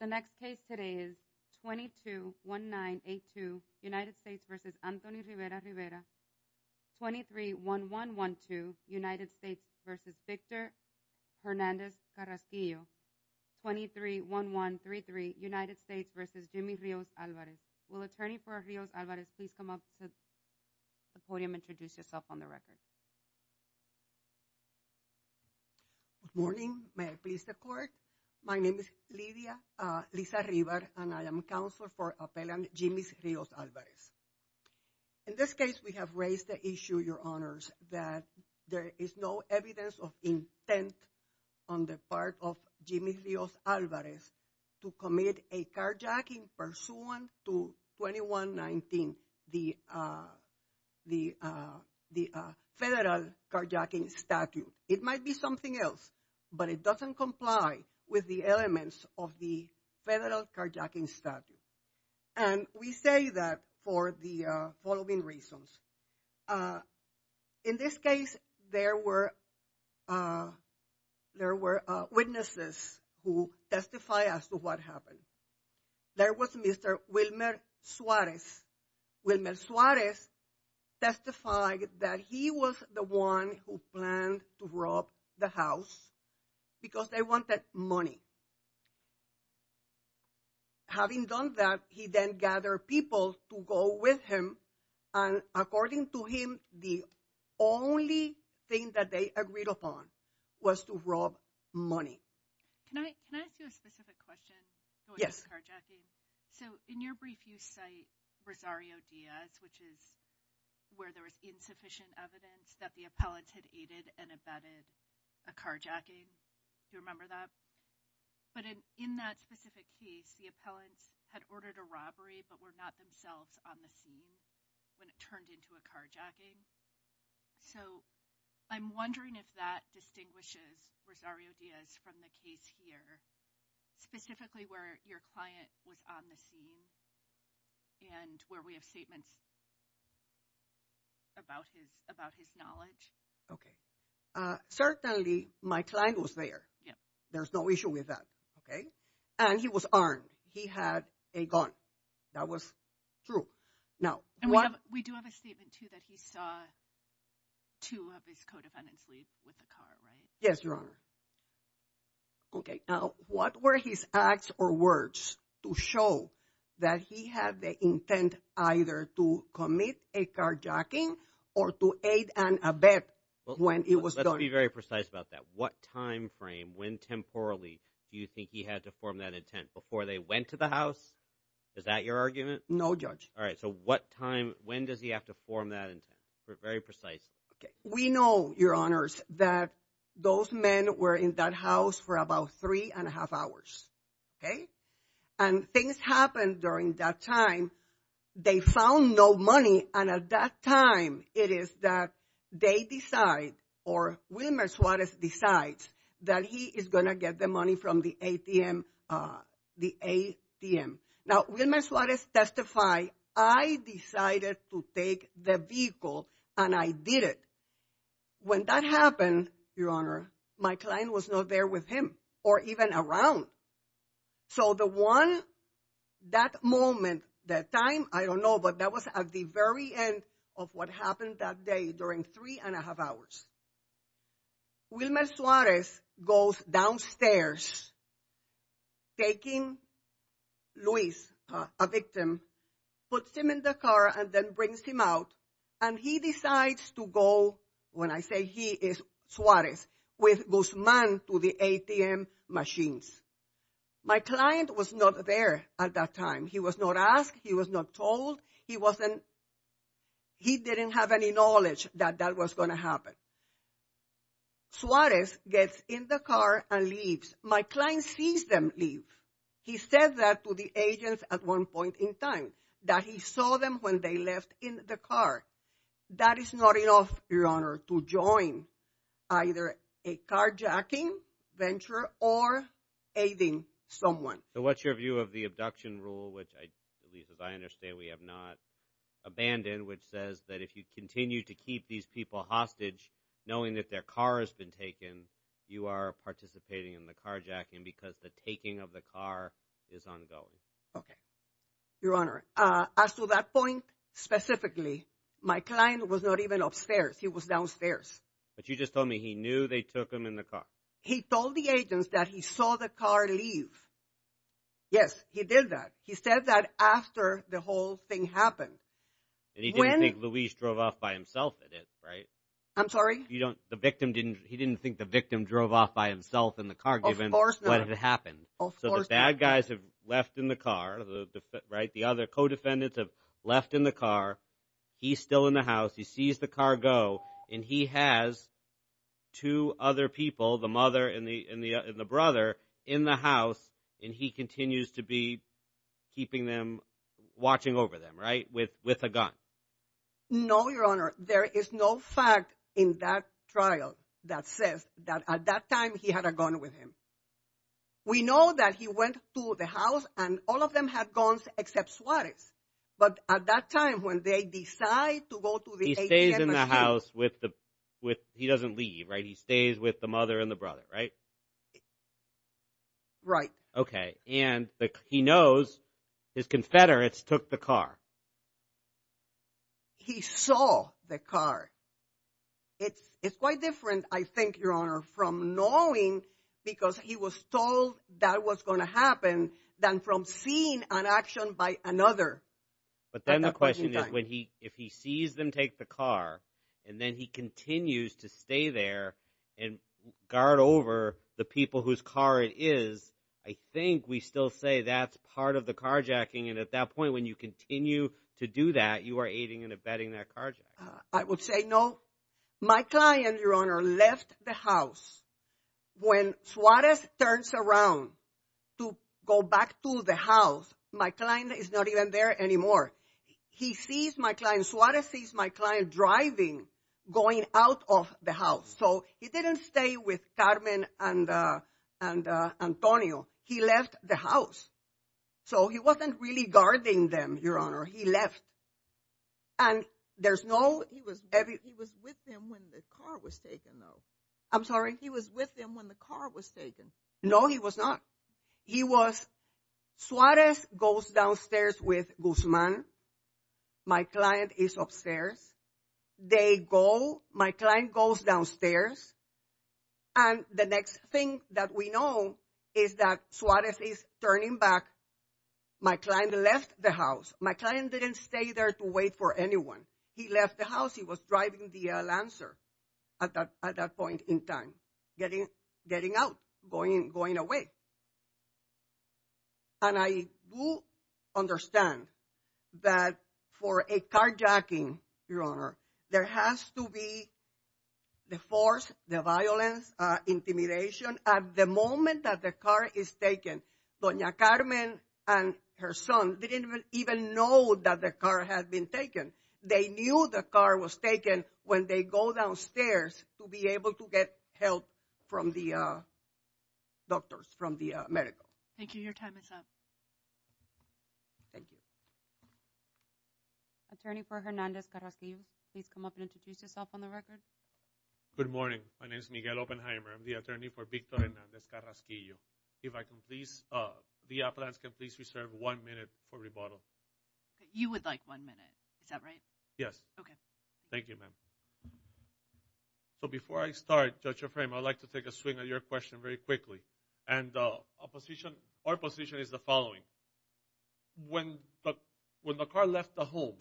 The next case today is 221982 United States v. Anthony Rivera-Rivera, 231112 United States v. Victor Hernandez Carrasquillo, 231133 United States v. Jimmy Rios-Alvarez. Will attorney for Rios-Alvarez please come up to the podium and introduce yourself on the record? Good morning. May I please step forward? My name is Lidia Liza-River and I am counsel for appellant Jimmy Rios-Alvarez. In this case we have raised the issue, your honors, that there is no evidence of intent on the part of Jimmy Rios-Alvarez to commit a carjacking pursuant to 2119, the federal carjacking statute. It might be something else, but it doesn't comply with the elements of the federal carjacking statute. And we say that for the following reasons. In this case there were witnesses who testify as to what happened. There was Mr. Wilmer Suarez. Wilmer Suarez testified that he was the one who planned to rob the house because they wanted money. Having done that, he then gathered people to go with him and according to him, the only thing that they agreed upon was to rob money. Can I ask you a specific question? Yes. So in your brief you cite Rosario Diaz, which is where there was insufficient evidence that the appellant had aided and abetted a carjacking, do you remember that? But in that specific case, the appellant had ordered a robbery but were not themselves on the scene when it turned into a carjacking. So I'm wondering if that distinguishes Rosario Diaz from the case here, specifically where your client was on the scene and where we have statements about his knowledge. Certainly, my client was there. There's no issue with that. And he was armed. He had a gun. That was true. We do have a statement too that he saw two of his co-defendants leave with the car, right? Yes, Your Honor. Okay. Now, what were his acts or words to show that he had the intent either to commit a carjacking or to aid and abet when it was done? Let's be very precise about that. What time frame, when temporally, do you think he had to form that intent? Before they went to the house? Is that your argument? No, Judge. All right. So what time, when does he have to form that intent? Very precise. We know, Your Honors, that those men were in that house for about three and a half hours. Okay? And things happened during that time. They found no money, and at that time, it is that they decide, or Wilmer Suarez decides, that he is going to get the money from the ATM. Now, Wilmer Suarez testified, I decided to take the vehicle and I didn't. When that happened, Your Honor, my client was not there with him or even around. So the one, that moment, that time, I don't know, but that was at the very end of what happened that day during three and a half hours. Wilmer Suarez goes downstairs, taking Luis, a victim, puts him in the car and then brings him out, and he decides to go, when I say he, it's Suarez, with Guzman to the ATM machines. My client was not there at that time. He was not asked, he was not told, he didn't have any knowledge that that was going to Suarez gets in the car and leaves. My client sees them leave. He said that to the agents at one point in time, that he saw them when they left in the car. That is not enough, Your Honor, to join either a carjacking venture or aiding someone. So what's your view of the abduction rule, which I believe, as I understand, we have not abandoned, which says that if you continue to keep these people hostage, knowing that their car has been taken, you are participating in the carjacking because the taking of the car is ongoing. Okay. Your Honor, as to that point, specifically, my client was not even upstairs. He was downstairs. But you just told me he knew they took him in the car. He told the agents that he saw the car leave. Yes, he did that. He said that after the whole thing happened. And he didn't think Luis drove off by himself, did he, right? I'm sorry? He didn't think the victim drove off by himself in the car, given what had happened. So the bad guys have left in the car, right? The other co-defendants have left in the car. He's still in the house. He sees the car go, and he has two other people, the mother and the brother, in the house. And he continues to be keeping them, watching over them, right? With a gun. No, Your Honor. There is no fact in that trial that says that at that time, he had a gun with him. We know that he went to the house, and all of them had guns except Suarez. But at that time, when they decide to go to the HMSU- He stays in the house with the- he doesn't leave, right? He stays with the mother and the brother, right? Right. Okay. And he knows his confederates took the car. He saw the car. It's quite different, I think, Your Honor, from knowing, because he was told that was going to happen, than from seeing an action by another. But then the question is, if he sees them take the car, and then he continues to stay there and guard over the people whose car it is, I think we still say that's part of the carjacking. And at that point, when you continue to do that, you are aiding and abetting that carjacking. I would say no. My client, Your Honor, left the house. When Suarez turns around to go back to the house, my client is not even there anymore. He sees my client- Suarez sees my client driving, going out of the house. So he didn't stay with Carmen and Antonio. He left the house. So he wasn't really guarding them, Your Honor. He left. And there's no- He was with them when the car was taken, though. I'm sorry? He was with them when the car was taken. No, he was not. He was- Suarez goes downstairs with Guzman. My client is upstairs. They go- My client goes downstairs, and the next thing that we know is that Suarez is turning back. My client left the house. My client didn't stay there to wait for anyone. He left the house. He was driving the Lancer at that point in time, getting out, going away. And I do understand that for a carjacking, Your Honor, there has to be the force, the violence, intimidation. At the moment that the car is taken, Doña Carmen and her son didn't even know that the car had been taken. They knew the car was taken when they go downstairs to be able to get help from the doctors, from the medical. Thank you. Your time is up. Thank you. Attorney for Hernandez Carrasiv, please come up and introduce yourself on the record. Good morning. My name is Miguel Oppenheimer. I'm the attorney for Victor Hernandez Carrasiv. If I can please- The appellants can please reserve one minute for rebuttal. You would like one minute. Is that right? Yes. Okay. Thank you, ma'am. So before I start, Judge Efraim, I'd like to take a swing at your question very quickly. And our position is the following. When the car left the home,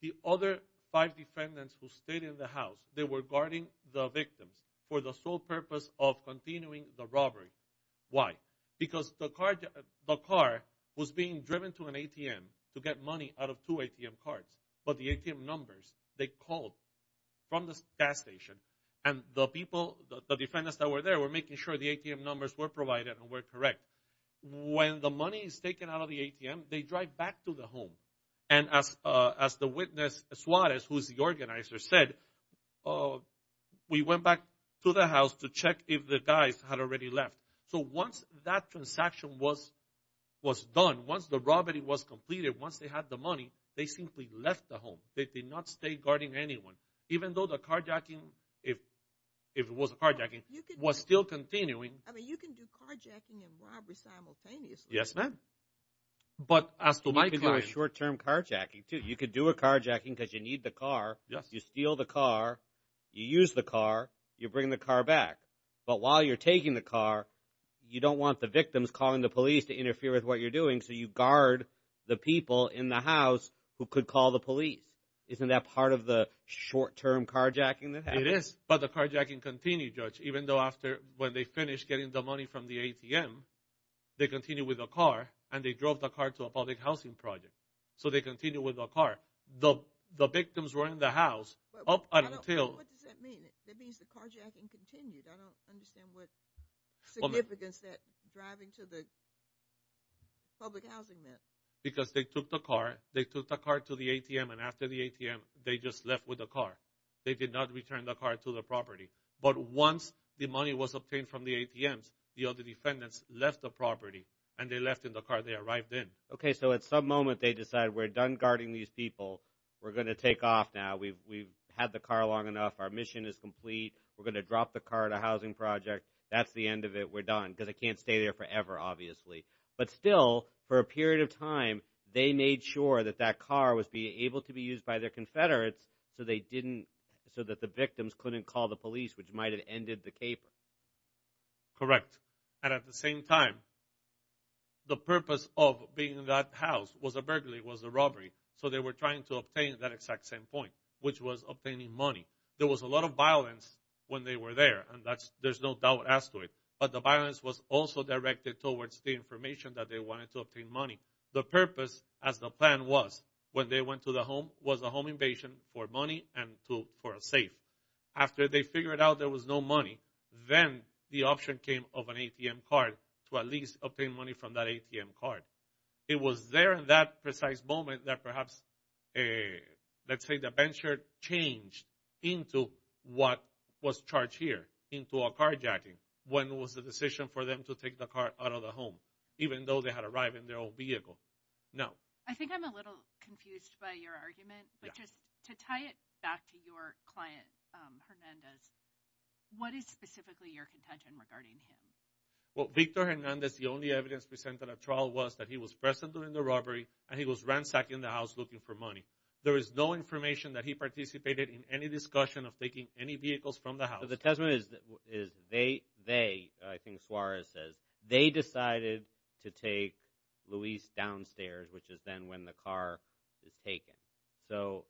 the other five defendants who stayed in the house, they were guarding the victims for the sole purpose of continuing the robbery. Because the car was being driven to an ATM to get money out of two ATM cards. But the ATM numbers, they called from the gas station and the people, the defendants that were there were making sure the ATM numbers were provided and were correct. When the money is taken out of the ATM, they drive back to the home. And as the witness Suarez, who is the organizer, said, we went back to the house to check if the guys had already left. So once that transaction was done, once the robbery was completed, once they had the money, they simply left the home. They did not stay guarding anyone. Even though the carjacking, if it was a carjacking, was still continuing- I mean, you can do carjacking and robbery simultaneously. Yes, ma'am. But as to my- You can do a short-term carjacking, too. You could do a carjacking because you need the car, you steal the car, you use the car, you bring the car back. But while you're taking the car, you don't want the victims calling the police to interfere with what you're doing. So you guard the people in the house who could call the police. Isn't that part of the short-term carjacking that happens? It is. But the carjacking continued, Judge, even though after, when they finished getting the money from the ATM, they continued with the car, and they drove the car to a public housing project. So they continued with the car. The victims were in the house up until- What does that mean? That means the carjacking continued. I don't understand what significance that driving to the public housing meant. Because they took the car, they took the car to the ATM, and after the ATM, they just left with the car. They did not return the car to the property. But once the money was obtained from the ATMs, the other defendants left the property, and they left in the car. They arrived in. Okay, so at some moment, they decide, we're done guarding these people. We're going to take off now. We've had the car long enough. Our mission is complete. We're going to drop the car at a housing project. That's the end of it. We're done. Because it can't stay there forever, obviously. But still, for a period of time, they made sure that that car was able to be used by the Confederates so that the victims couldn't call the police, which might have ended the caper. Correct. And at the same time, the purpose of being in that house was a burglary, was a robbery. So they were trying to obtain that exact same point, which was obtaining money. There was a lot of violence when they were there, and there's no doubt as to it. But the violence was also directed towards the information that they wanted to obtain money. The purpose, as the plan was, when they went to the home, was a home invasion for money and for a safe. After they figured out there was no money, then the option came of an ATM card to at least obtain money from that ATM card. It was there in that precise moment that perhaps, let's say the venture changed into what was charged here, into a carjacking, when was the decision for them to take the car out of the home, even though they had arrived in their own vehicle? No. I think I'm a little confused by your argument, but just to tie it back to your client Hernandez, what is specifically your contention regarding him? Well, Victor Hernandez, the only evidence presented at trial was that he was present during the robbery, and he was ransacking the house looking for money. There is no information that he participated in any discussion of taking any vehicles from the house. So the testament is they, I think Suarez says, they decided to take Luis downstairs, which is then when the car is taken. So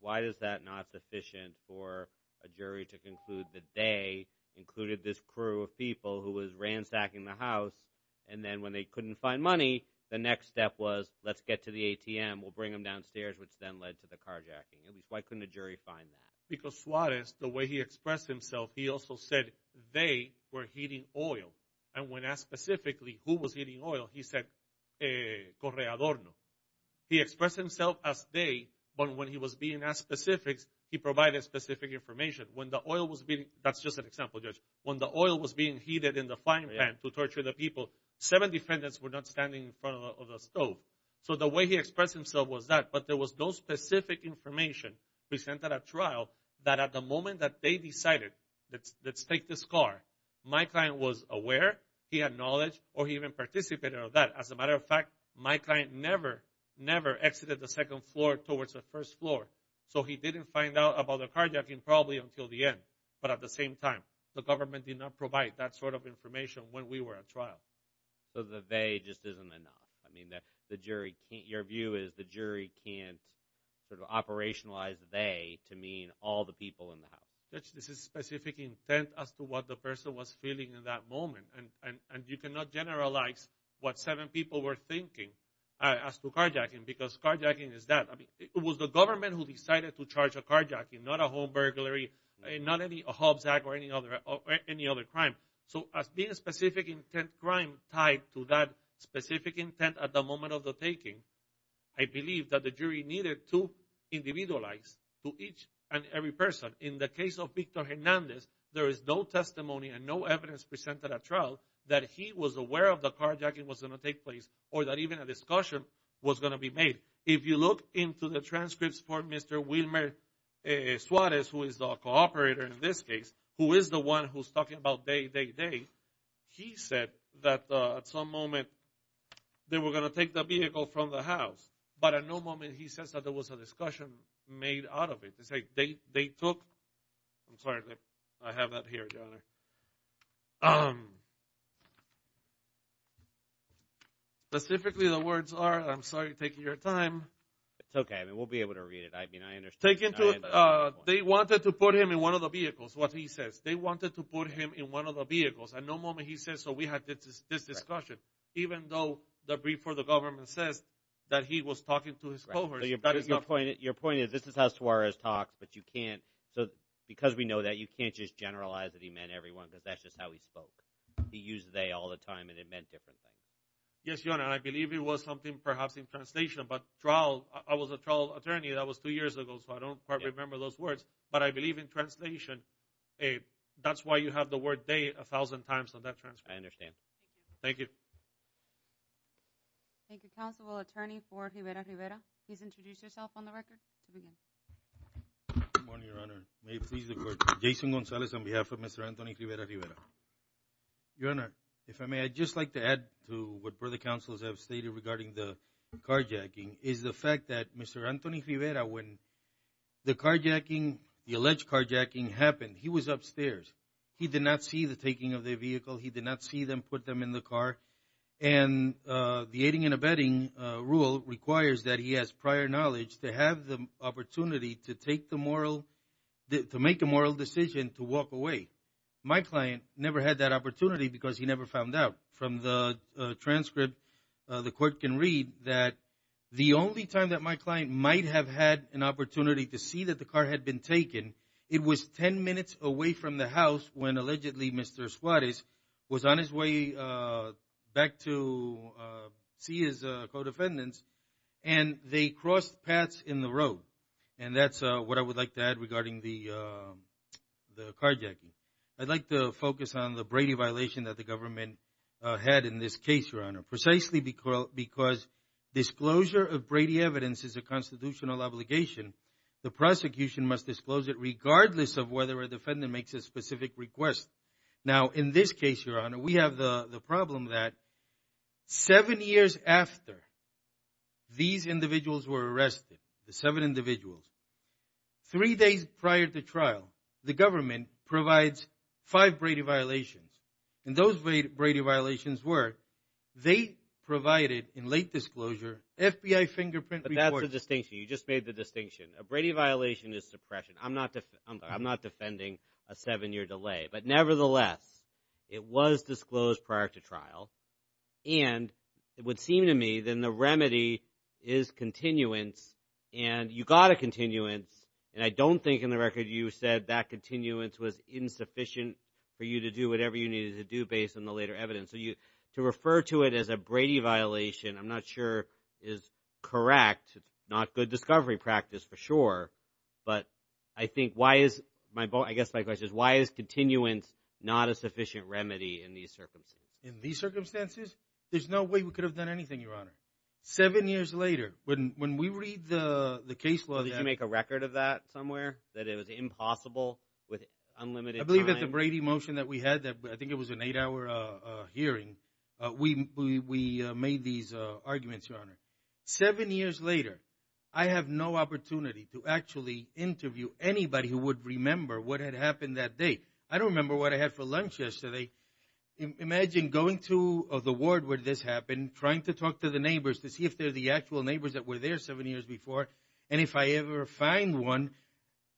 why is that not sufficient for a jury to conclude that they included this crew of people who was ransacking the house, and then when they couldn't find money, the next step was let's get to the ATM, we'll bring him downstairs, which then led to the carjacking. Why couldn't a jury find that? Because Suarez, the way he expressed himself, he also said they were heating oil. And when asked specifically who was heating oil, he said Correadorno. He expressed himself as they, but when he was being asked specifics, he provided specific information. When the oil was being, that's just an example, Judge, when the oil was being heated in the frying pan to torture the people, seven defendants were not standing in front of the stove. So the way he expressed himself was that, but there was no specific information presented at trial that at the moment that they decided, let's take this car, my client was aware, he had knowledge, or he even participated in that. As a matter of fact, my client never, never exited the second floor towards the first floor. So he didn't find out about the carjacking probably until the end. But at the same time, the government did not provide that sort of information when we were at trial. So the they just isn't enough. I mean, the jury, your view is the jury can't sort of operationalize the they to mean all the people in the house. Judge, this is specific intent as to what the person was feeling in that moment. And you cannot generalize what seven people were thinking as to carjacking because carjacking is that. I mean, it was the government who decided to charge a carjacking, not a home burglary, not any Hobbs Act or any other crime. So as being a specific intent crime tied to that specific intent at the moment of the taking, I believe that the jury needed to individualize to each and every person. In the case of Victor Hernandez, there is no testimony and no evidence presented at trial that he was aware of the carjacking was going to take place or that even a discussion was going to be made. If you look into the transcripts for Mr. Wilmer Suarez, who is the co-operator in this case, who is the one who's talking about day, day, day. He said that at some moment they were going to take the vehicle from the house. But at no moment he says that there was a discussion made out of it. They took, I'm sorry, I have that here, Your Honor. Specifically, the words are, I'm sorry, taking your time. It's okay. We'll be able to read it. I mean, I understand. They wanted to put him in one of the vehicles, what he says. They wanted to put him in one of the vehicles. At no moment he says, so we had this discussion. Even though the brief for the government says that he was talking to his co-operators. Your point is, this is how Suarez talks, but you can't, because we know that, you can't just generalize that he meant everyone because that's just how he spoke. He used they all the time and it meant different things. Yes, Your Honor. I believe it was something perhaps in translation, but trial, I was a trial attorney. That was two years ago, so I don't quite remember those words. But I believe in translation. That's why you have the word they a thousand times on that transcript. I understand. Thank you. Thank you, Counselor. We'll attorney for Rivera-Rivera. Please introduce yourself on the record. Good morning, Your Honor. May it please the court. Jason Gonzalez on behalf of Mr. Anthony Rivera-Rivera. Your Honor, if I may, I'd just like to add to what further counselors have stated regarding the carjacking. is the fact that Mr. Anthony Rivera, when the carjacking, the alleged carjacking happened, he was upstairs. He did not see the taking of the vehicle. He did not see them put them in the car. And the aiding and abetting rule requires that he has prior knowledge to have the opportunity to take the moral, to make a moral decision to walk away. My client never had that opportunity because he never found out from the transcript. But the court can read that the only time that my client might have had an opportunity to see that the car had been taken, it was 10 minutes away from the house when allegedly Mr. Suarez was on his way back to see his co-defendants and they crossed paths in the road. And that's what I would like to add regarding the carjacking. I'd like to focus on the Brady violation that the government had in this case, Your Honor, precisely because disclosure of Brady evidence is a constitutional obligation. The prosecution must disclose it regardless of whether a defendant makes a specific request. Now, in this case, Your Honor, we have the problem that seven years after these individuals were arrested, the seven individuals, three days prior to trial, the government provides five Brady violations. And those Brady violations were they provided in late disclosure FBI fingerprint reports. But that's a distinction. You just made the distinction. A Brady violation is suppression. I'm not defending a seven-year delay. But nevertheless, it was disclosed prior to trial. And it would seem to me then the remedy is continuance. And you got a continuance. And I don't think in the record you said that continuance was insufficient for you to do whatever you needed to do based on the later evidence. So to refer to it as a Brady violation, I'm not sure is correct, not good discovery practice for sure. But I think why is, I guess my question is why is continuance not a sufficient remedy in these circumstances? There's no way we could have done anything, Your Honor. Seven years later, when we read the case law that Did you make a record of that somewhere, that it was impossible with unlimited time? I believe that the Brady motion that we had, I think it was an eight-hour hearing, we made these arguments, Your Honor. Seven years later, I have no opportunity to actually interview anybody who would remember what had happened that day. I don't remember what I had for lunch yesterday. Imagine going to the ward where this happened, trying to talk to the neighbors to see if they're the actual neighbors that were there seven years before. And if I ever find one,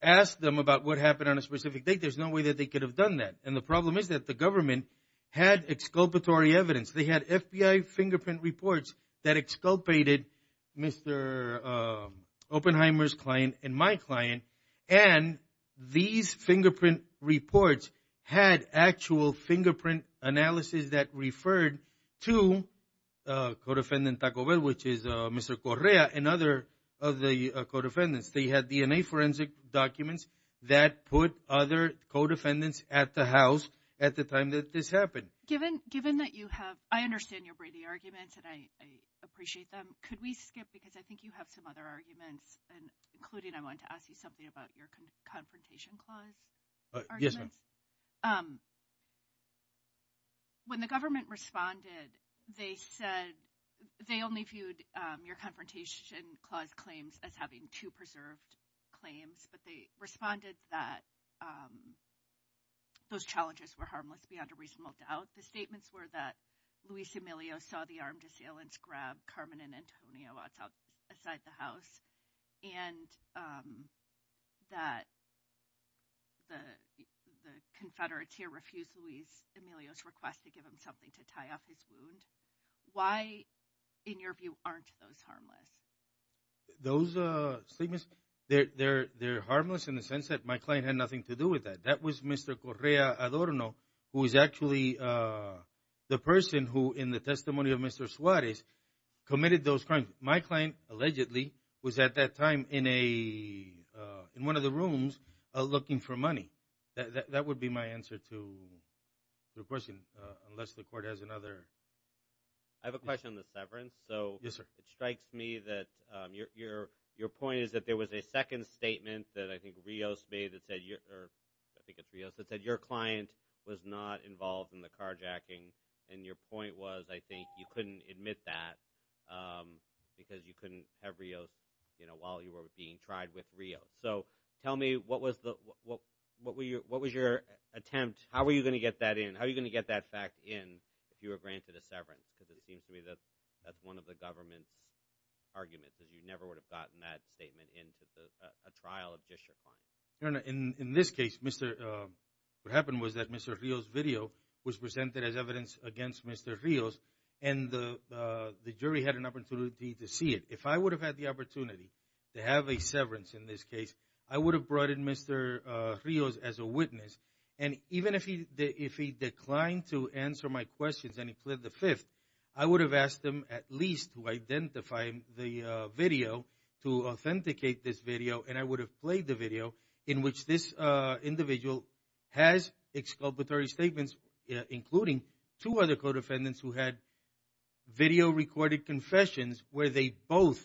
ask them about what happened on a specific day. There's no way that they could have done that. And the problem is that the government had exculpatory evidence. They had FBI fingerprint reports that exculpated Mr. Oppenheimer's client and my client. And these fingerprint reports had actual fingerprint analysis that referred to Codefendant Taco Bell, which is Mr. Correa and other of the codefendants. They had DNA forensic documents that put other codefendants at the house at the time that this happened. Given that you have, I understand your Brady arguments, and I appreciate them. Could we skip, because I think you have some other arguments, including I wanted to ask you something about your Confrontation Clause arguments? Yes, ma'am. When the government responded, they said they only viewed your Confrontation Clause claims as having two preserved claims, but they responded that those challenges were harmless beyond a reasonable doubt. The statements were that Luis Emilio saw the armed assailants grab Carmen and Antonio outside the house, and that the Confederates here refused Luis Emilio's request to give him something to tie up his wound. Why, in your view, aren't those harmless? Those statements, they're harmless in the sense that my client had nothing to do with that. That was Mr. Correa Adorno, who is actually the person who, in the testimony of Mr. Suarez, committed those crimes. My client, allegedly, was at that time in one of the rooms looking for money. That would be my answer to your question, unless the Court has another. I have a question on the severance. Yes, sir. It strikes me that your point is that there was a second statement that I think Rios made that said your client was not involved in the carjacking, and your point was, I think, you couldn't admit that because you couldn't have Rios while you were being tried with Rios. Tell me, what was your attempt? How were you going to get that in? How were you going to get that fact in if you were granted a severance? Because it seems to me that that's one of the government's arguments, that you never would have gotten that statement into a trial of district court. In this case, what happened was that Mr. Rios' video was presented as evidence against Mr. Rios, and the jury had an opportunity to see it. If I would have had the opportunity to have a severance in this case, I would have brought in Mr. Rios as a witness. And even if he declined to answer my questions and he plead the fifth, I would have asked him at least to identify the video, to authenticate this video, and I would have played the video in which this individual has exculpatory statements, including two other co-defendants who had video-recorded confessions where they both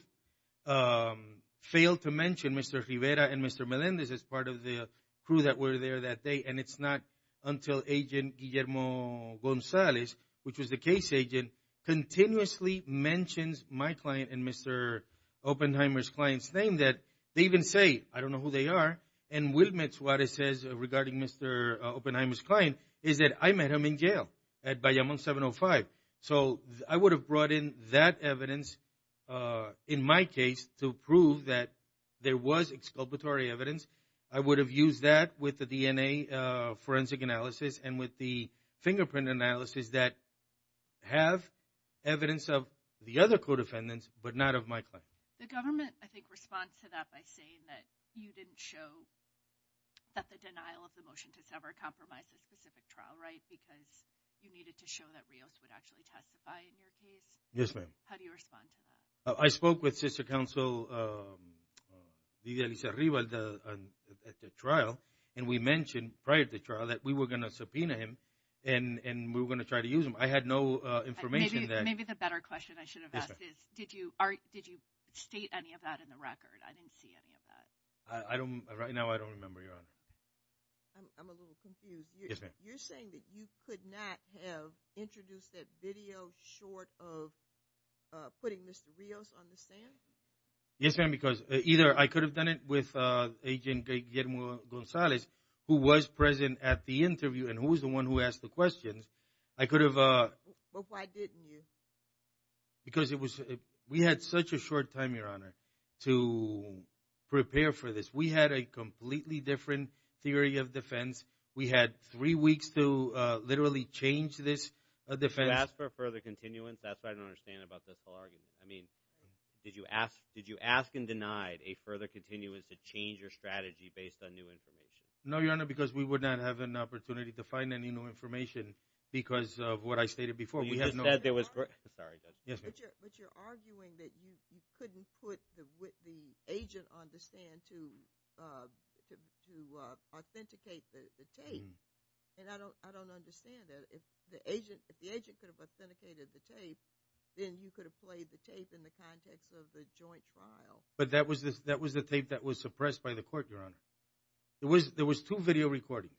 failed to mention Mr. Rivera and Mr. Melendez as part of the crew that were there that day. And it's not until Agent Guillermo Gonzalez, which was the case agent, continuously mentions my client and Mr. Oppenheimer's client's name that they even say, I don't know who they are. And Wilmette Suarez says, regarding Mr. Oppenheimer's client, is that I met him in jail at Bayamón 705. So I would have brought in that evidence in my case to prove that there was exculpatory evidence. I would have used that with the DNA forensic analysis and with the fingerprint analysis that have evidence of the other co-defendants, but not of my client. The government, I think, responds to that by saying that you didn't show that the denial of the motion to sever a compromise in a specific trial, right, because you needed to show that Rios would actually testify in your case. Yes, ma'am. How do you respond to that? I spoke with sister counsel Lidia Lizarriba at the trial, and we mentioned prior to the trial that we were going to subpoena him, and we were going to try to use him. I had no information. Maybe the better question I should have asked is, did you state any of that in the record? I didn't see any of that. Right now, I don't remember, Your Honor. I'm a little confused. Yes, ma'am. You're saying that you could not have introduced that video short of putting Mr. Rios on the stand? Yes, ma'am, because either I could have done it with Agent Guillermo Gonzalez, who was present at the interview, and who was the one who asked the questions. I could have... But why didn't you? Because it was... We had such a short time, Your Honor, to prepare for this. We had a completely different theory of defense. We had three weeks to literally change this defense. You asked for a further continuance. That's what I don't understand about this whole argument. I mean, did you ask and denied a further continuance to change your strategy based on new information? No, Your Honor, because we would not have an opportunity to find any new information because of what I stated before. You just said there was... Sorry. Yes, ma'am. But you're arguing that you couldn't put the agent on the stand to authenticate the tape. And I don't understand that. If the agent could have authenticated the tape, then you could have played the tape in the context of the joint file. But that was the tape that was suppressed by the court, Your Honor. There was two video recordings.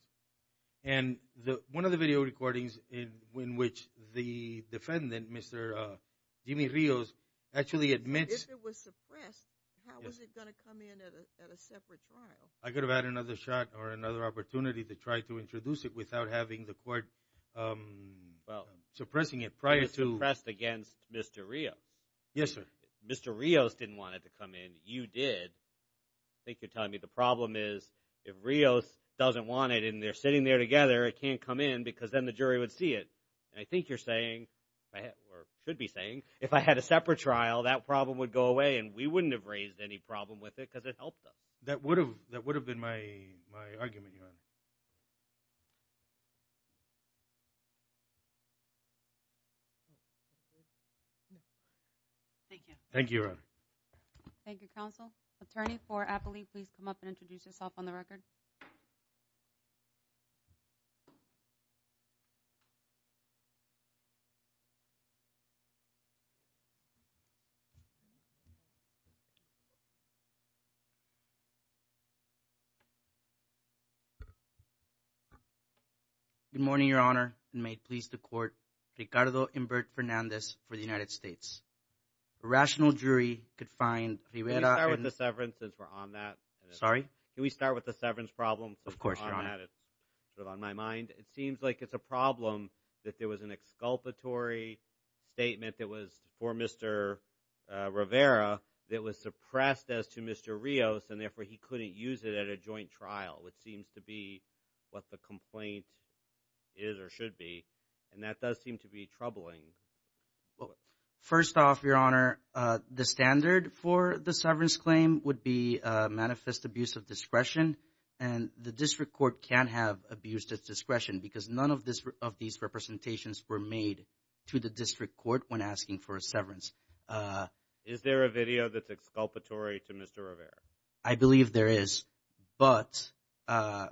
And one of the video recordings in which the defendant, Mr. Jimmy Rios, actually admits... If it was suppressed, how was it going to come in at a separate trial? I could have had another shot or another opportunity to try to introduce it without having the court suppressing it prior to... It was suppressed against Mr. Rios. Yes, sir. Mr. Rios didn't want it to come in. You did. I think you're telling me the problem is if Rios doesn't want it and they're sitting there together, it can't come in because then the jury would see it. And I think you're saying, or should be saying, if I had a separate trial, that problem would go away and we wouldn't have raised any problem with it because it helped them. That would have been my argument, Your Honor. Thank you. Thank you, Your Honor. Thank you, counsel. Attorney for Appoli, please come up and introduce yourself on the record. Good morning, Your Honor. And may it please the court, Ricardo Humbert Fernandez for the United States. A rational jury could find... Can we start with the severance since we're on that? Sorry? Can we start with the severance problem? Of course, Your Honor. It's on my mind. It seems like it's a problem that there was an exculpatory statement that was for Mr. Rivera that was suppressed as to Mr. Rios, and therefore he couldn't use it at a joint trial, which seems to be what the complaint is or should be. And that does seem to be troubling. First off, Your Honor, the standard for the severance claim would be manifest abuse of discretion, and the district court can't have abuse of discretion because none of these representations were made to the district court when asking for a severance. Is there a video that's exculpatory to Mr. Rivera? I believe there is, but Mr.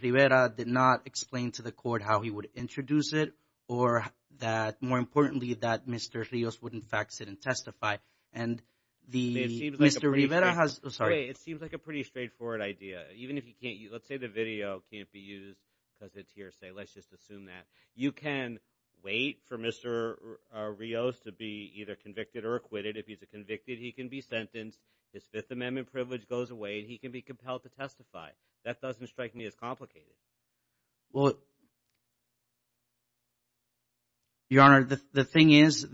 Rivera did not explain to the court how he would introduce it or that, more importantly, that Mr. Rios would, in fact, sit and testify. And Mr. Rivera has... It seems like a pretty straightforward idea. Even if he can't use... Let's say the video can't be used because it's hearsay. Let's just assume that. You can wait for Mr. Rios to be either convicted or acquitted. If he's convicted, he can be sentenced. His Fifth Amendment privilege goes away. He can be compelled to testify. That doesn't strike me as complicated. Well... Your Honor, the thing is,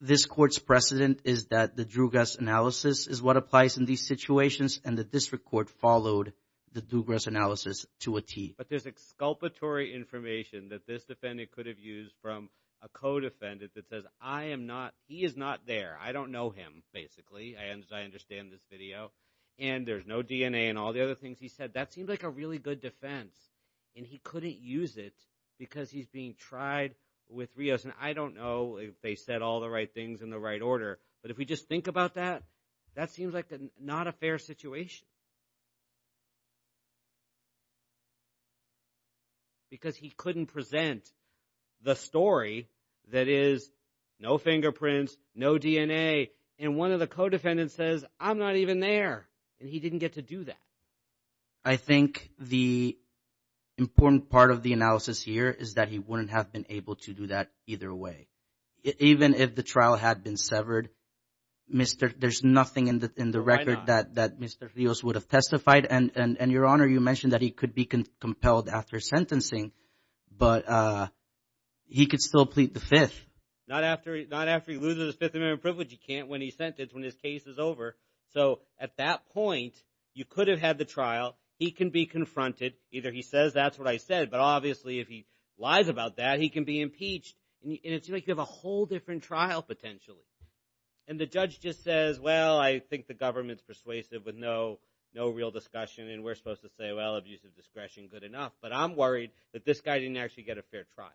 this court's precedent is that the Drugus analysis is what applies in these situations, and the district court followed the Drugus analysis to a T. But there's exculpatory information that this defendant could have used from a co-defendant that says, I am not... He is not there. I don't know him, basically. I understand this video. And there's no DNA and all the other things he said. That seems like a really good defense. And he couldn't use it because he's being tried with Rios. And I don't know if they said all the right things in the right order. But if we just think about that, that seems like not a fair situation. Because he couldn't present the story that is no fingerprints, no DNA. And one of the co-defendants says, I'm not even there. And he didn't get to do that. I think the important part of the analysis here is that he wouldn't have been able to do that either way. Even if the trial had been severed, there's nothing in the record that Mr. Rios would have testified. And, Your Honor, you mentioned that he could be compelled after sentencing. But he could still plead the Fifth. Not after he loses his Fifth Amendment privilege. He can't when he's sentenced, when his case is over. So at that point, you could have had the trial. He can be confronted. Either he says that's what I said, but obviously if he lies about that, he can be impeached. And it seems like you have a whole different trial potentially. And the judge just says, well, I think the government's persuasive with no real discussion. And we're supposed to say, well, abuse of discretion, good enough. But I'm worried that this guy didn't actually get a fair trial.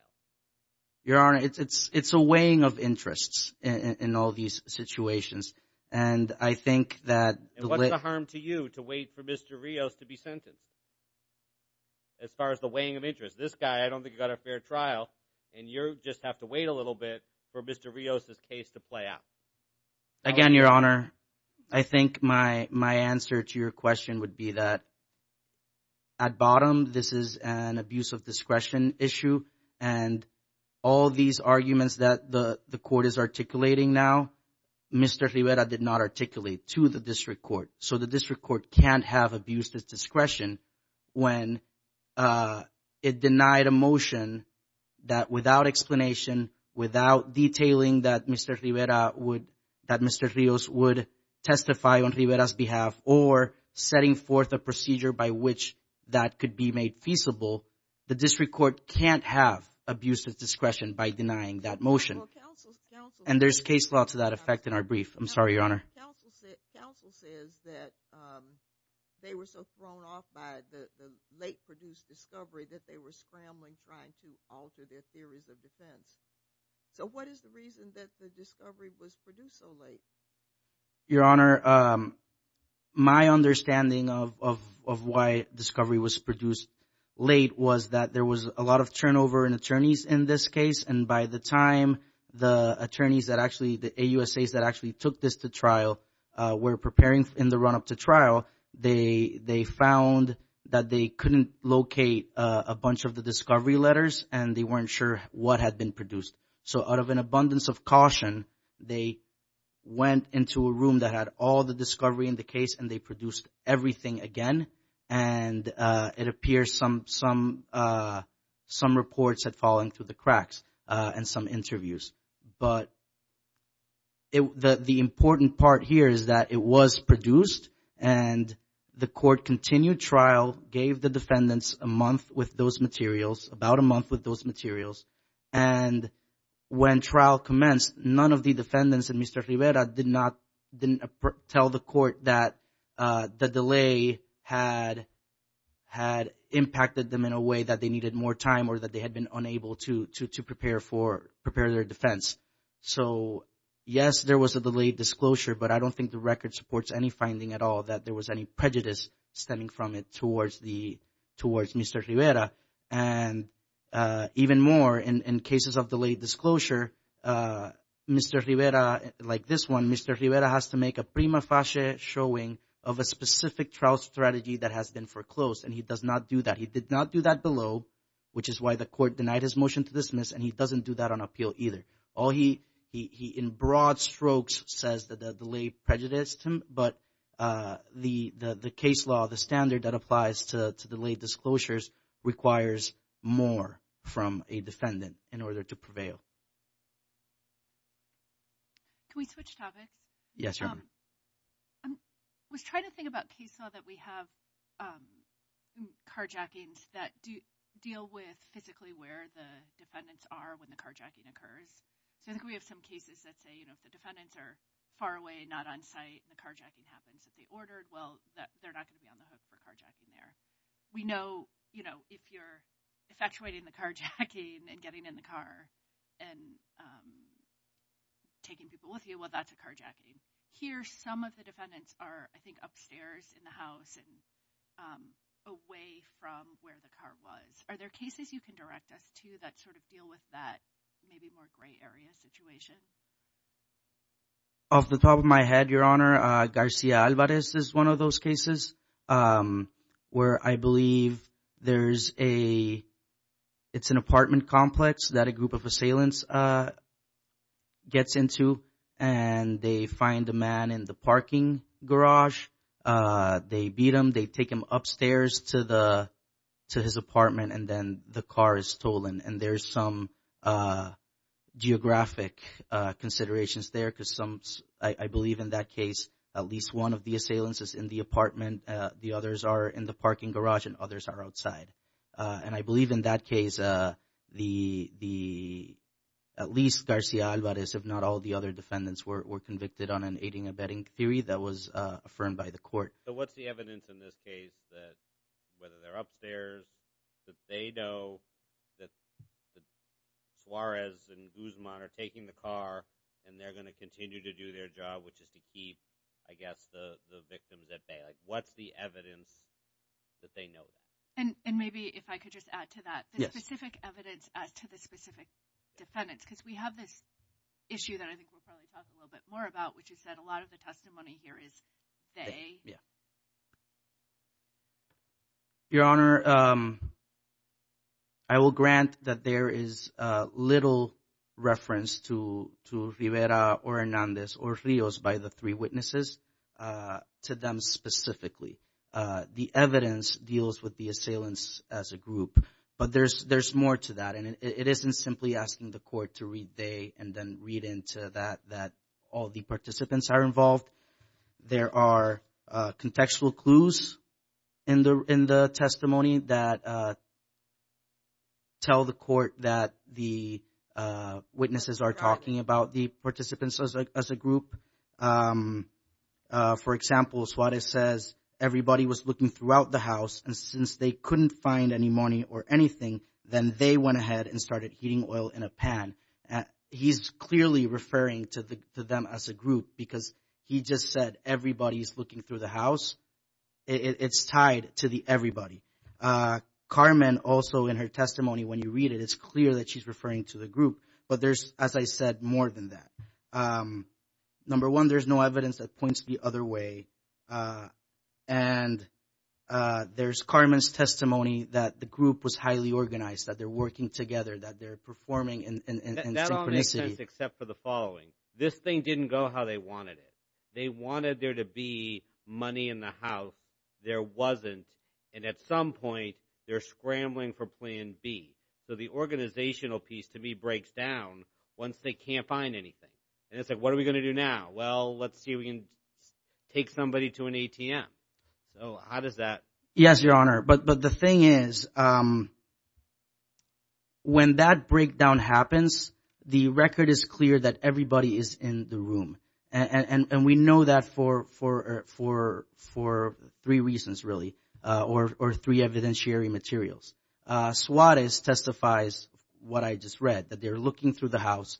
Your Honor, it's a weighing of interests in all these situations. And I think that the way— And what's the harm to you to wait for Mr. Rios to be sentenced as far as the weighing of interests? This guy, I don't think he got a fair trial. And you just have to wait a little bit for Mr. Rios' case to play out. Again, Your Honor, I think my answer to your question would be that at bottom, this is an abuse of discretion issue. And all these arguments that the court is articulating now, Mr. Rivera did not articulate to the district court. So the district court can't have abuse of discretion when it denied a motion that without explanation, without detailing that Mr. Rivera would—that Mr. Rios would testify on Rivera's behalf or setting forth a procedure by which that could be made feasible, the district court can't have abuse of discretion by denying that motion. And there's case law to that effect in our brief. I'm sorry, Your Honor. Counsel says that they were so thrown off by the late-produced discovery that they were scrambling trying to alter their theories of defense. So what is the reason that the discovery was produced so late? Your Honor, my understanding of why discovery was produced late was that there was a lot of turnover in attorneys in this case. And by the time the attorneys that actually—the AUSAs that actually took this to trial were preparing in the run-up to trial, they found that they couldn't locate a bunch of the discovery letters, and they weren't sure what had been produced. So out of an abundance of caution, they went into a room that had all the discovery in the case, and they produced everything again. And it appears some reports had fallen through the cracks and some interviews. But the important part here is that it was produced, and the court continued trial, gave the defendants a month with those materials, about a month with those materials. And when trial commenced, none of the defendants and Mr. Rivera did not—didn't tell the court that the delay had impacted them in a way that they needed more time or that they had been unable to prepare for—prepare their defense. So yes, there was a delayed disclosure, but I don't think the record supports any finding at all that there was any prejudice stemming from it towards the—towards Mr. Rivera. And even more, in cases of delayed disclosure, Mr. Rivera—like this one, Mr. Rivera has to make a prima facie showing of a specific trial strategy that has been foreclosed, and he does not do that. He did not do that below, which is why the court denied his motion to dismiss, and he doesn't do that on appeal either. All he—he in broad strokes says that the delay prejudiced him, but the case law, the standard that applies to delayed disclosures requires more from a defendant in order to prevail. Can we switch topics? Yes, Your Honor. I was trying to think about case law that we have carjackings that deal with physically where the defendants are when the carjacking occurs. So I think we have some cases that say, you know, if the defendants are far away, not on site, the carjacking happens. If they ordered, well, they're not going to be on the hook for carjacking there. We know, you know, if you're effectuating the carjacking and getting in the car and taking people with you, well, that's a carjacking. Here, some of the defendants are, I think, upstairs in the house and away from where the car was. Are there cases you can direct us to that sort of deal with that maybe more gray area situation? Off the top of my head, Your Honor, Garcia Alvarez is one of those cases where I believe there's an apartment complex that a group of assailants gets into and they find a man in the parking garage. They beat him. They take him upstairs to his apartment, and then the car is stolen. And there's some geographic considerations there because I believe in that case at least one of the assailants is in the apartment, the others are in the parking garage, and others are outside. And I believe in that case at least Garcia Alvarez, if not all the other defendants, were convicted on an aiding and abetting theory that was affirmed by the court. So what's the evidence in this case that whether they're upstairs, that they know that Suarez and Guzman are taking the car and they're going to continue to do their job, which is to keep, I guess, the victims at bay? What's the evidence that they know? And maybe if I could just add to that. The specific evidence to the specific defendants because we have this issue that I think we'll probably talk a little bit more about, which is that a lot of the testimony here is they. Your Honor, I will grant that there is little reference to Rivera or Hernandez or Rios by the three witnesses to them specifically. The evidence deals with the assailants as a group, but there's more to that. And it isn't simply asking the court to read they and then read into that, that all the participants are involved. There are contextual clues in the testimony that tell the court that the witnesses are talking about the participants as a group. For example, Suarez says everybody was looking throughout the house, and since they couldn't find any money or anything, then they went ahead and started heating oil in a pan. He's clearly referring to them as a group because he just said everybody's looking through the house. It's tied to the everybody. Carmen also in her testimony, when you read it, it's clear that she's referring to the group. But there's, as I said, more than that. Number one, there's no evidence that points the other way. And there's Carmen's testimony that the group was highly organized, that they're working together, that they're performing in synchronicity. That all makes sense except for the following. This thing didn't go how they wanted it. They wanted there to be money in the house. There wasn't. And at some point, they're scrambling for plan B. So the organizational piece, to me, breaks down once they can't find anything. And it's like, what are we going to do now? Well, let's see if we can take somebody to an ATM. So how does that? Yes, Your Honor. But the thing is, when that breakdown happens, the record is clear that everybody is in the room. And we know that for three reasons, really, or three evidentiary materials. Suarez testifies, what I just read, that they're looking through the house.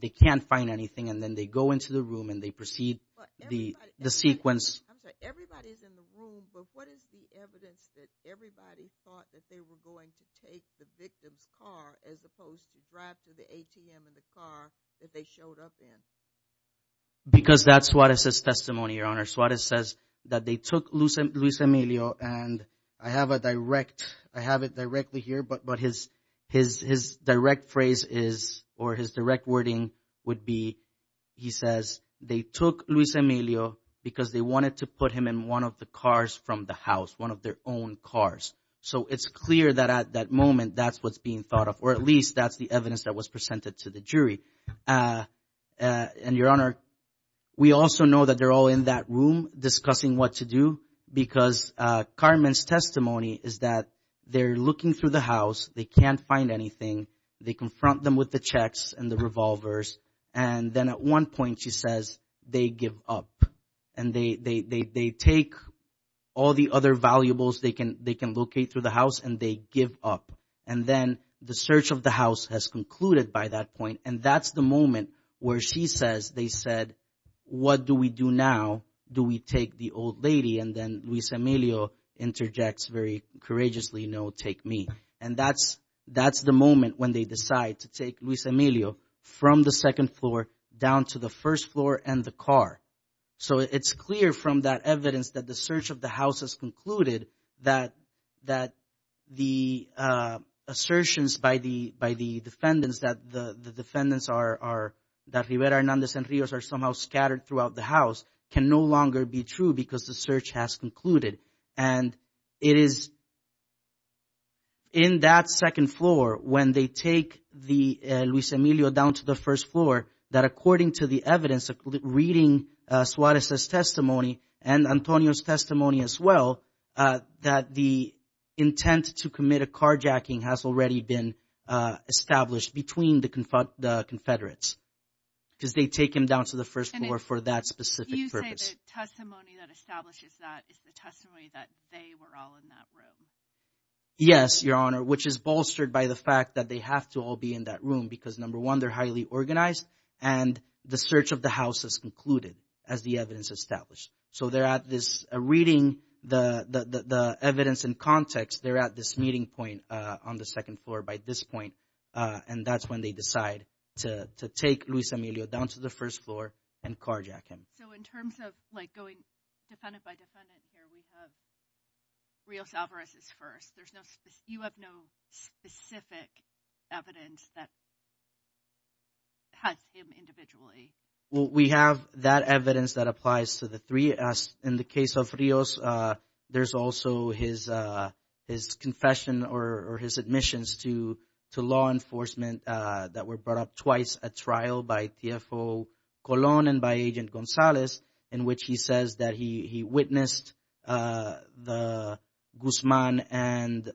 They can't find anything. And then they go into the room and they proceed the sequence. I'm sorry. Everybody's in the room. But what is the evidence that everybody thought that they were going to take the victim's car as opposed to drive to the ATM in the car that they showed up in? Because that's Suarez's testimony, Your Honor. Suarez says that they took Luis Emilio, and I have it directly here, but his direct phrase is, or his direct wording would be, he says, they took Luis Emilio because they wanted to put him in one of the cars from the house, one of their own cars. So it's clear that at that moment that's what's being thought of, or at least that's the evidence that was presented to the jury. And, Your Honor, we also know that they're all in that room discussing what to do because Carmen's testimony is that they're looking through the house. They can't find anything. They confront them with the checks and the revolvers. And then at one point she says, they give up. And they take all the other valuables they can locate through the house and they give up. And then the search of the house has concluded by that point. And that's the moment where she says, they said, what do we do now? Do we take the old lady? And then Luis Emilio interjects very courageously, no, take me. And that's the moment when they decide to take Luis Emilio from the second floor down to the first floor and the car. So it's clear from that evidence that the search of the house has concluded that the assertions by the defendants, that the defendants are, that Rivera Hernandez and Rios are somehow scattered throughout the house, can no longer be true because the search has concluded. And it is in that second floor when they take the Luis Emilio down to the first floor, that according to the evidence reading Suarez's testimony and Antonio's testimony as well, that the intent to commit a carjacking has already been established between the Confederates. Because they take him down to the first floor for that specific purpose. Do you say that testimony that establishes that is the testimony that they were all in that room? Yes, Your Honor, which is bolstered by the fact that they have to all be in that room because, number one, they're highly organized and the search of the house has concluded as the evidence established. So they're at this reading the evidence in context. They're at this meeting point on the second floor by this point. And that's when they decide to take Luis Emilio down to the first floor and carjack him. So in terms of going defendant by defendant here, we have Rios Alvarez is first. You have no specific evidence that has him individually. Well, we have that evidence that applies to the three. As in the case of Rios, there's also his confession or his admissions to law enforcement that were brought up twice, a trial by TFO Colon and by Agent Gonzalez, in which he says that he witnessed the Guzman and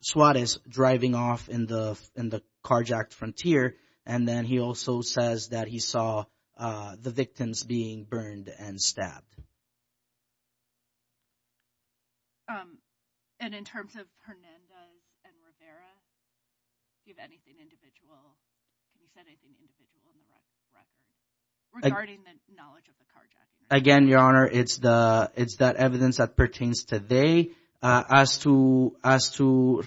Suarez driving off in the carjacked frontier. And then he also says that he saw the victims being burned and stabbed. And in terms of Hernandez and Rivera, do you have anything individual? You said anything individual in the record regarding the knowledge of the carjacking? Again, Your Honor, it's that evidence that pertains to they. As to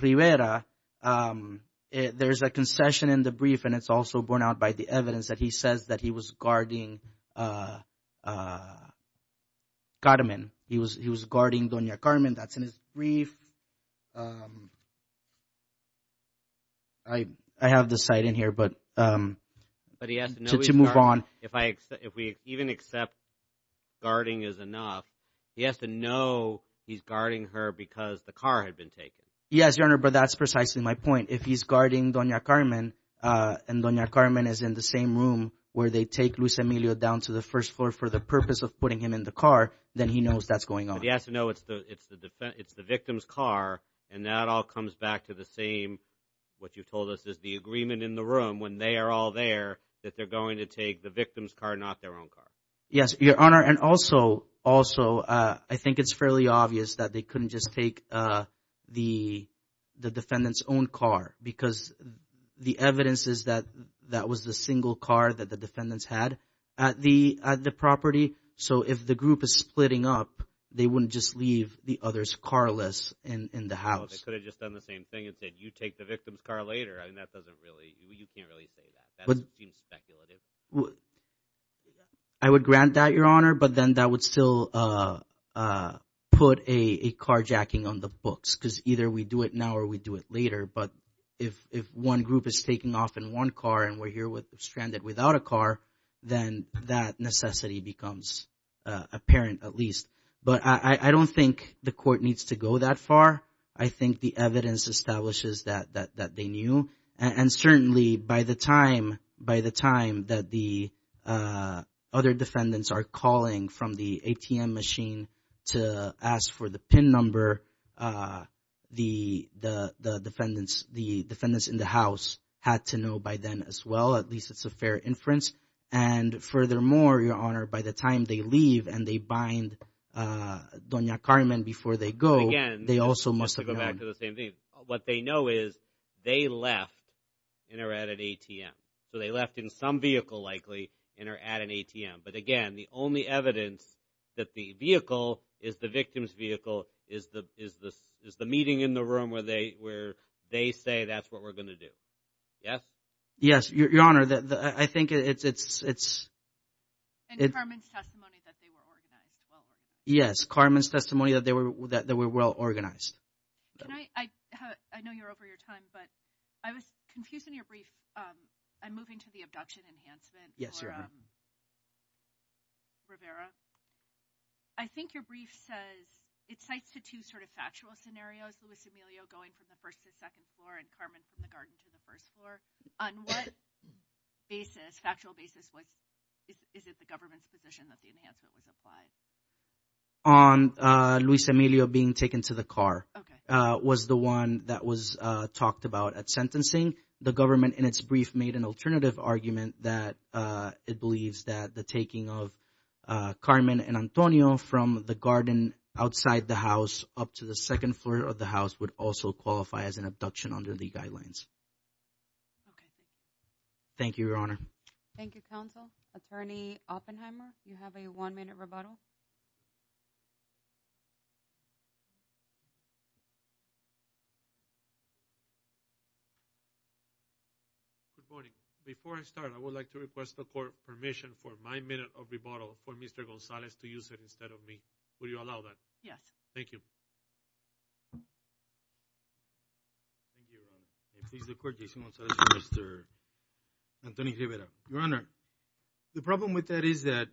Rivera, there is a concession in the brief, and it's also borne out by the evidence that he says that he was guarding Carmen. He was guarding Doña Carmen. That's in his brief. I have the site in here, but to move on. If we even accept guarding is enough, he has to know he's guarding her because the car had been taken. Yes, Your Honor, but that's precisely my point. If he's guarding Doña Carmen and Doña Carmen is in the same room where they take Luis Emilio down to the first floor for the purpose of putting him in the car, then he knows that's going on. But he has to know it's the victim's car, and that all comes back to the same, what you told us is the agreement in the room when they are all there, that they're going to take the victim's car, not their own car. Yes, Your Honor, and also I think it's fairly obvious that they couldn't just take the defendant's own car because the evidence is that that was the single car that the defendants had at the property. So if the group is splitting up, they wouldn't just leave the others carless in the house. They could have just done the same thing and said you take the victim's car later. I mean that doesn't really – you can't really say that. That seems speculative. I would grant that, Your Honor, but then that would still put a carjacking on the books because either we do it now or we do it later. But if one group is taking off in one car and we're here stranded without a car, then that necessity becomes apparent at least. But I don't think the court needs to go that far. I think the evidence establishes that they knew, and certainly by the time that the other defendants are calling from the ATM machine to ask for the PIN number, the defendants in the house had to know by then as well. At least it's a fair inference. And furthermore, Your Honor, by the time they leave and they bind Doña Carmen before they go, they also must have known. Again, just to go back to the same thing, what they know is they left and are at an ATM. So they left in some vehicle likely and are at an ATM. But again, the only evidence that the vehicle is the victim's vehicle is the meeting in the room where they say that's what we're going to do. Yes? Yes, Your Honor. I think it's – And Carmen's testimony that they were organized well. Yes, Carmen's testimony that they were well organized. Can I – I know you're over your time, but I was confused in your brief. I'm moving to the abduction enhancement for Rivera. I think your brief says – it cites the two sort of factual scenarios, Luis Emilio going from the first to second floor and Carmen from the garden to the first floor. On what basis, factual basis, is it the government's position that the enhancement was applied? On Luis Emilio being taken to the car. Okay. It was the one that was talked about at sentencing. The government in its brief made an alternative argument that it believes that the taking of Carmen and Antonio from the garden outside the house up to the second floor of the house would also qualify as an abduction under the guidelines. Okay. Thank you, Your Honor. Thank you, counsel. Attorney Oppenheimer, you have a one-minute rebuttal. Good morning. Before I start, I would like to request the court permission for my minute of rebuttal for Mr. Gonzalez to use it instead of me. Would you allow that? Yes. Thank you. I please the court, Jason Gonzalez and Mr. Antonio Rivera. Your Honor, the problem with that is that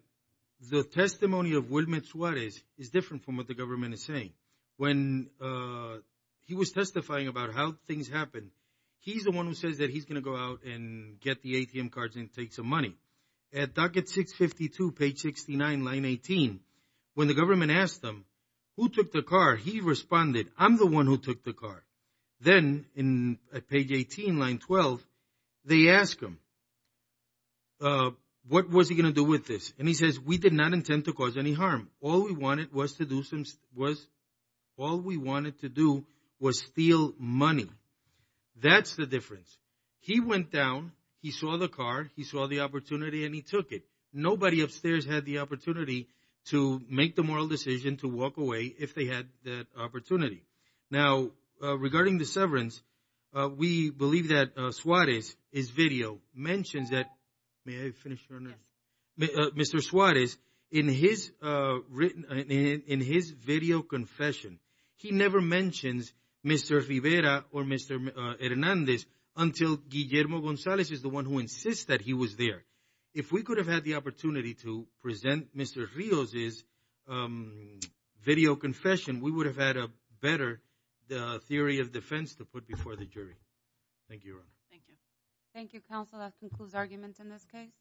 the testimony of Wilmer Suarez is different from what the government is saying. When he was testifying about how things happened, he's the one who says that he's going to go out and get the ATM cards and take some money. At docket 652, page 69, line 18, when the government asked him who took the car, he responded, I'm the one who took the car. Then at page 18, line 12, they ask him, what was he going to do with this? And he says, we did not intend to cause any harm. All we wanted to do was steal money. That's the difference. He went down, he saw the car, he saw the opportunity, and he took it. Nobody upstairs had the opportunity to make the moral decision to walk away if they had that opportunity. Now, regarding the severance, we believe that Suarez's video mentions that Mr. Suarez, in his video confession, he never mentions Mr. Rivera or Mr. Hernandez until Guillermo Gonzalez is the one who insists that he was there. If we could have had the opportunity to present Mr. Rios' video confession, we would have had a better theory of defense to put before the jury. Thank you, Your Honor. Thank you. Thank you, counsel. That concludes arguments in this case.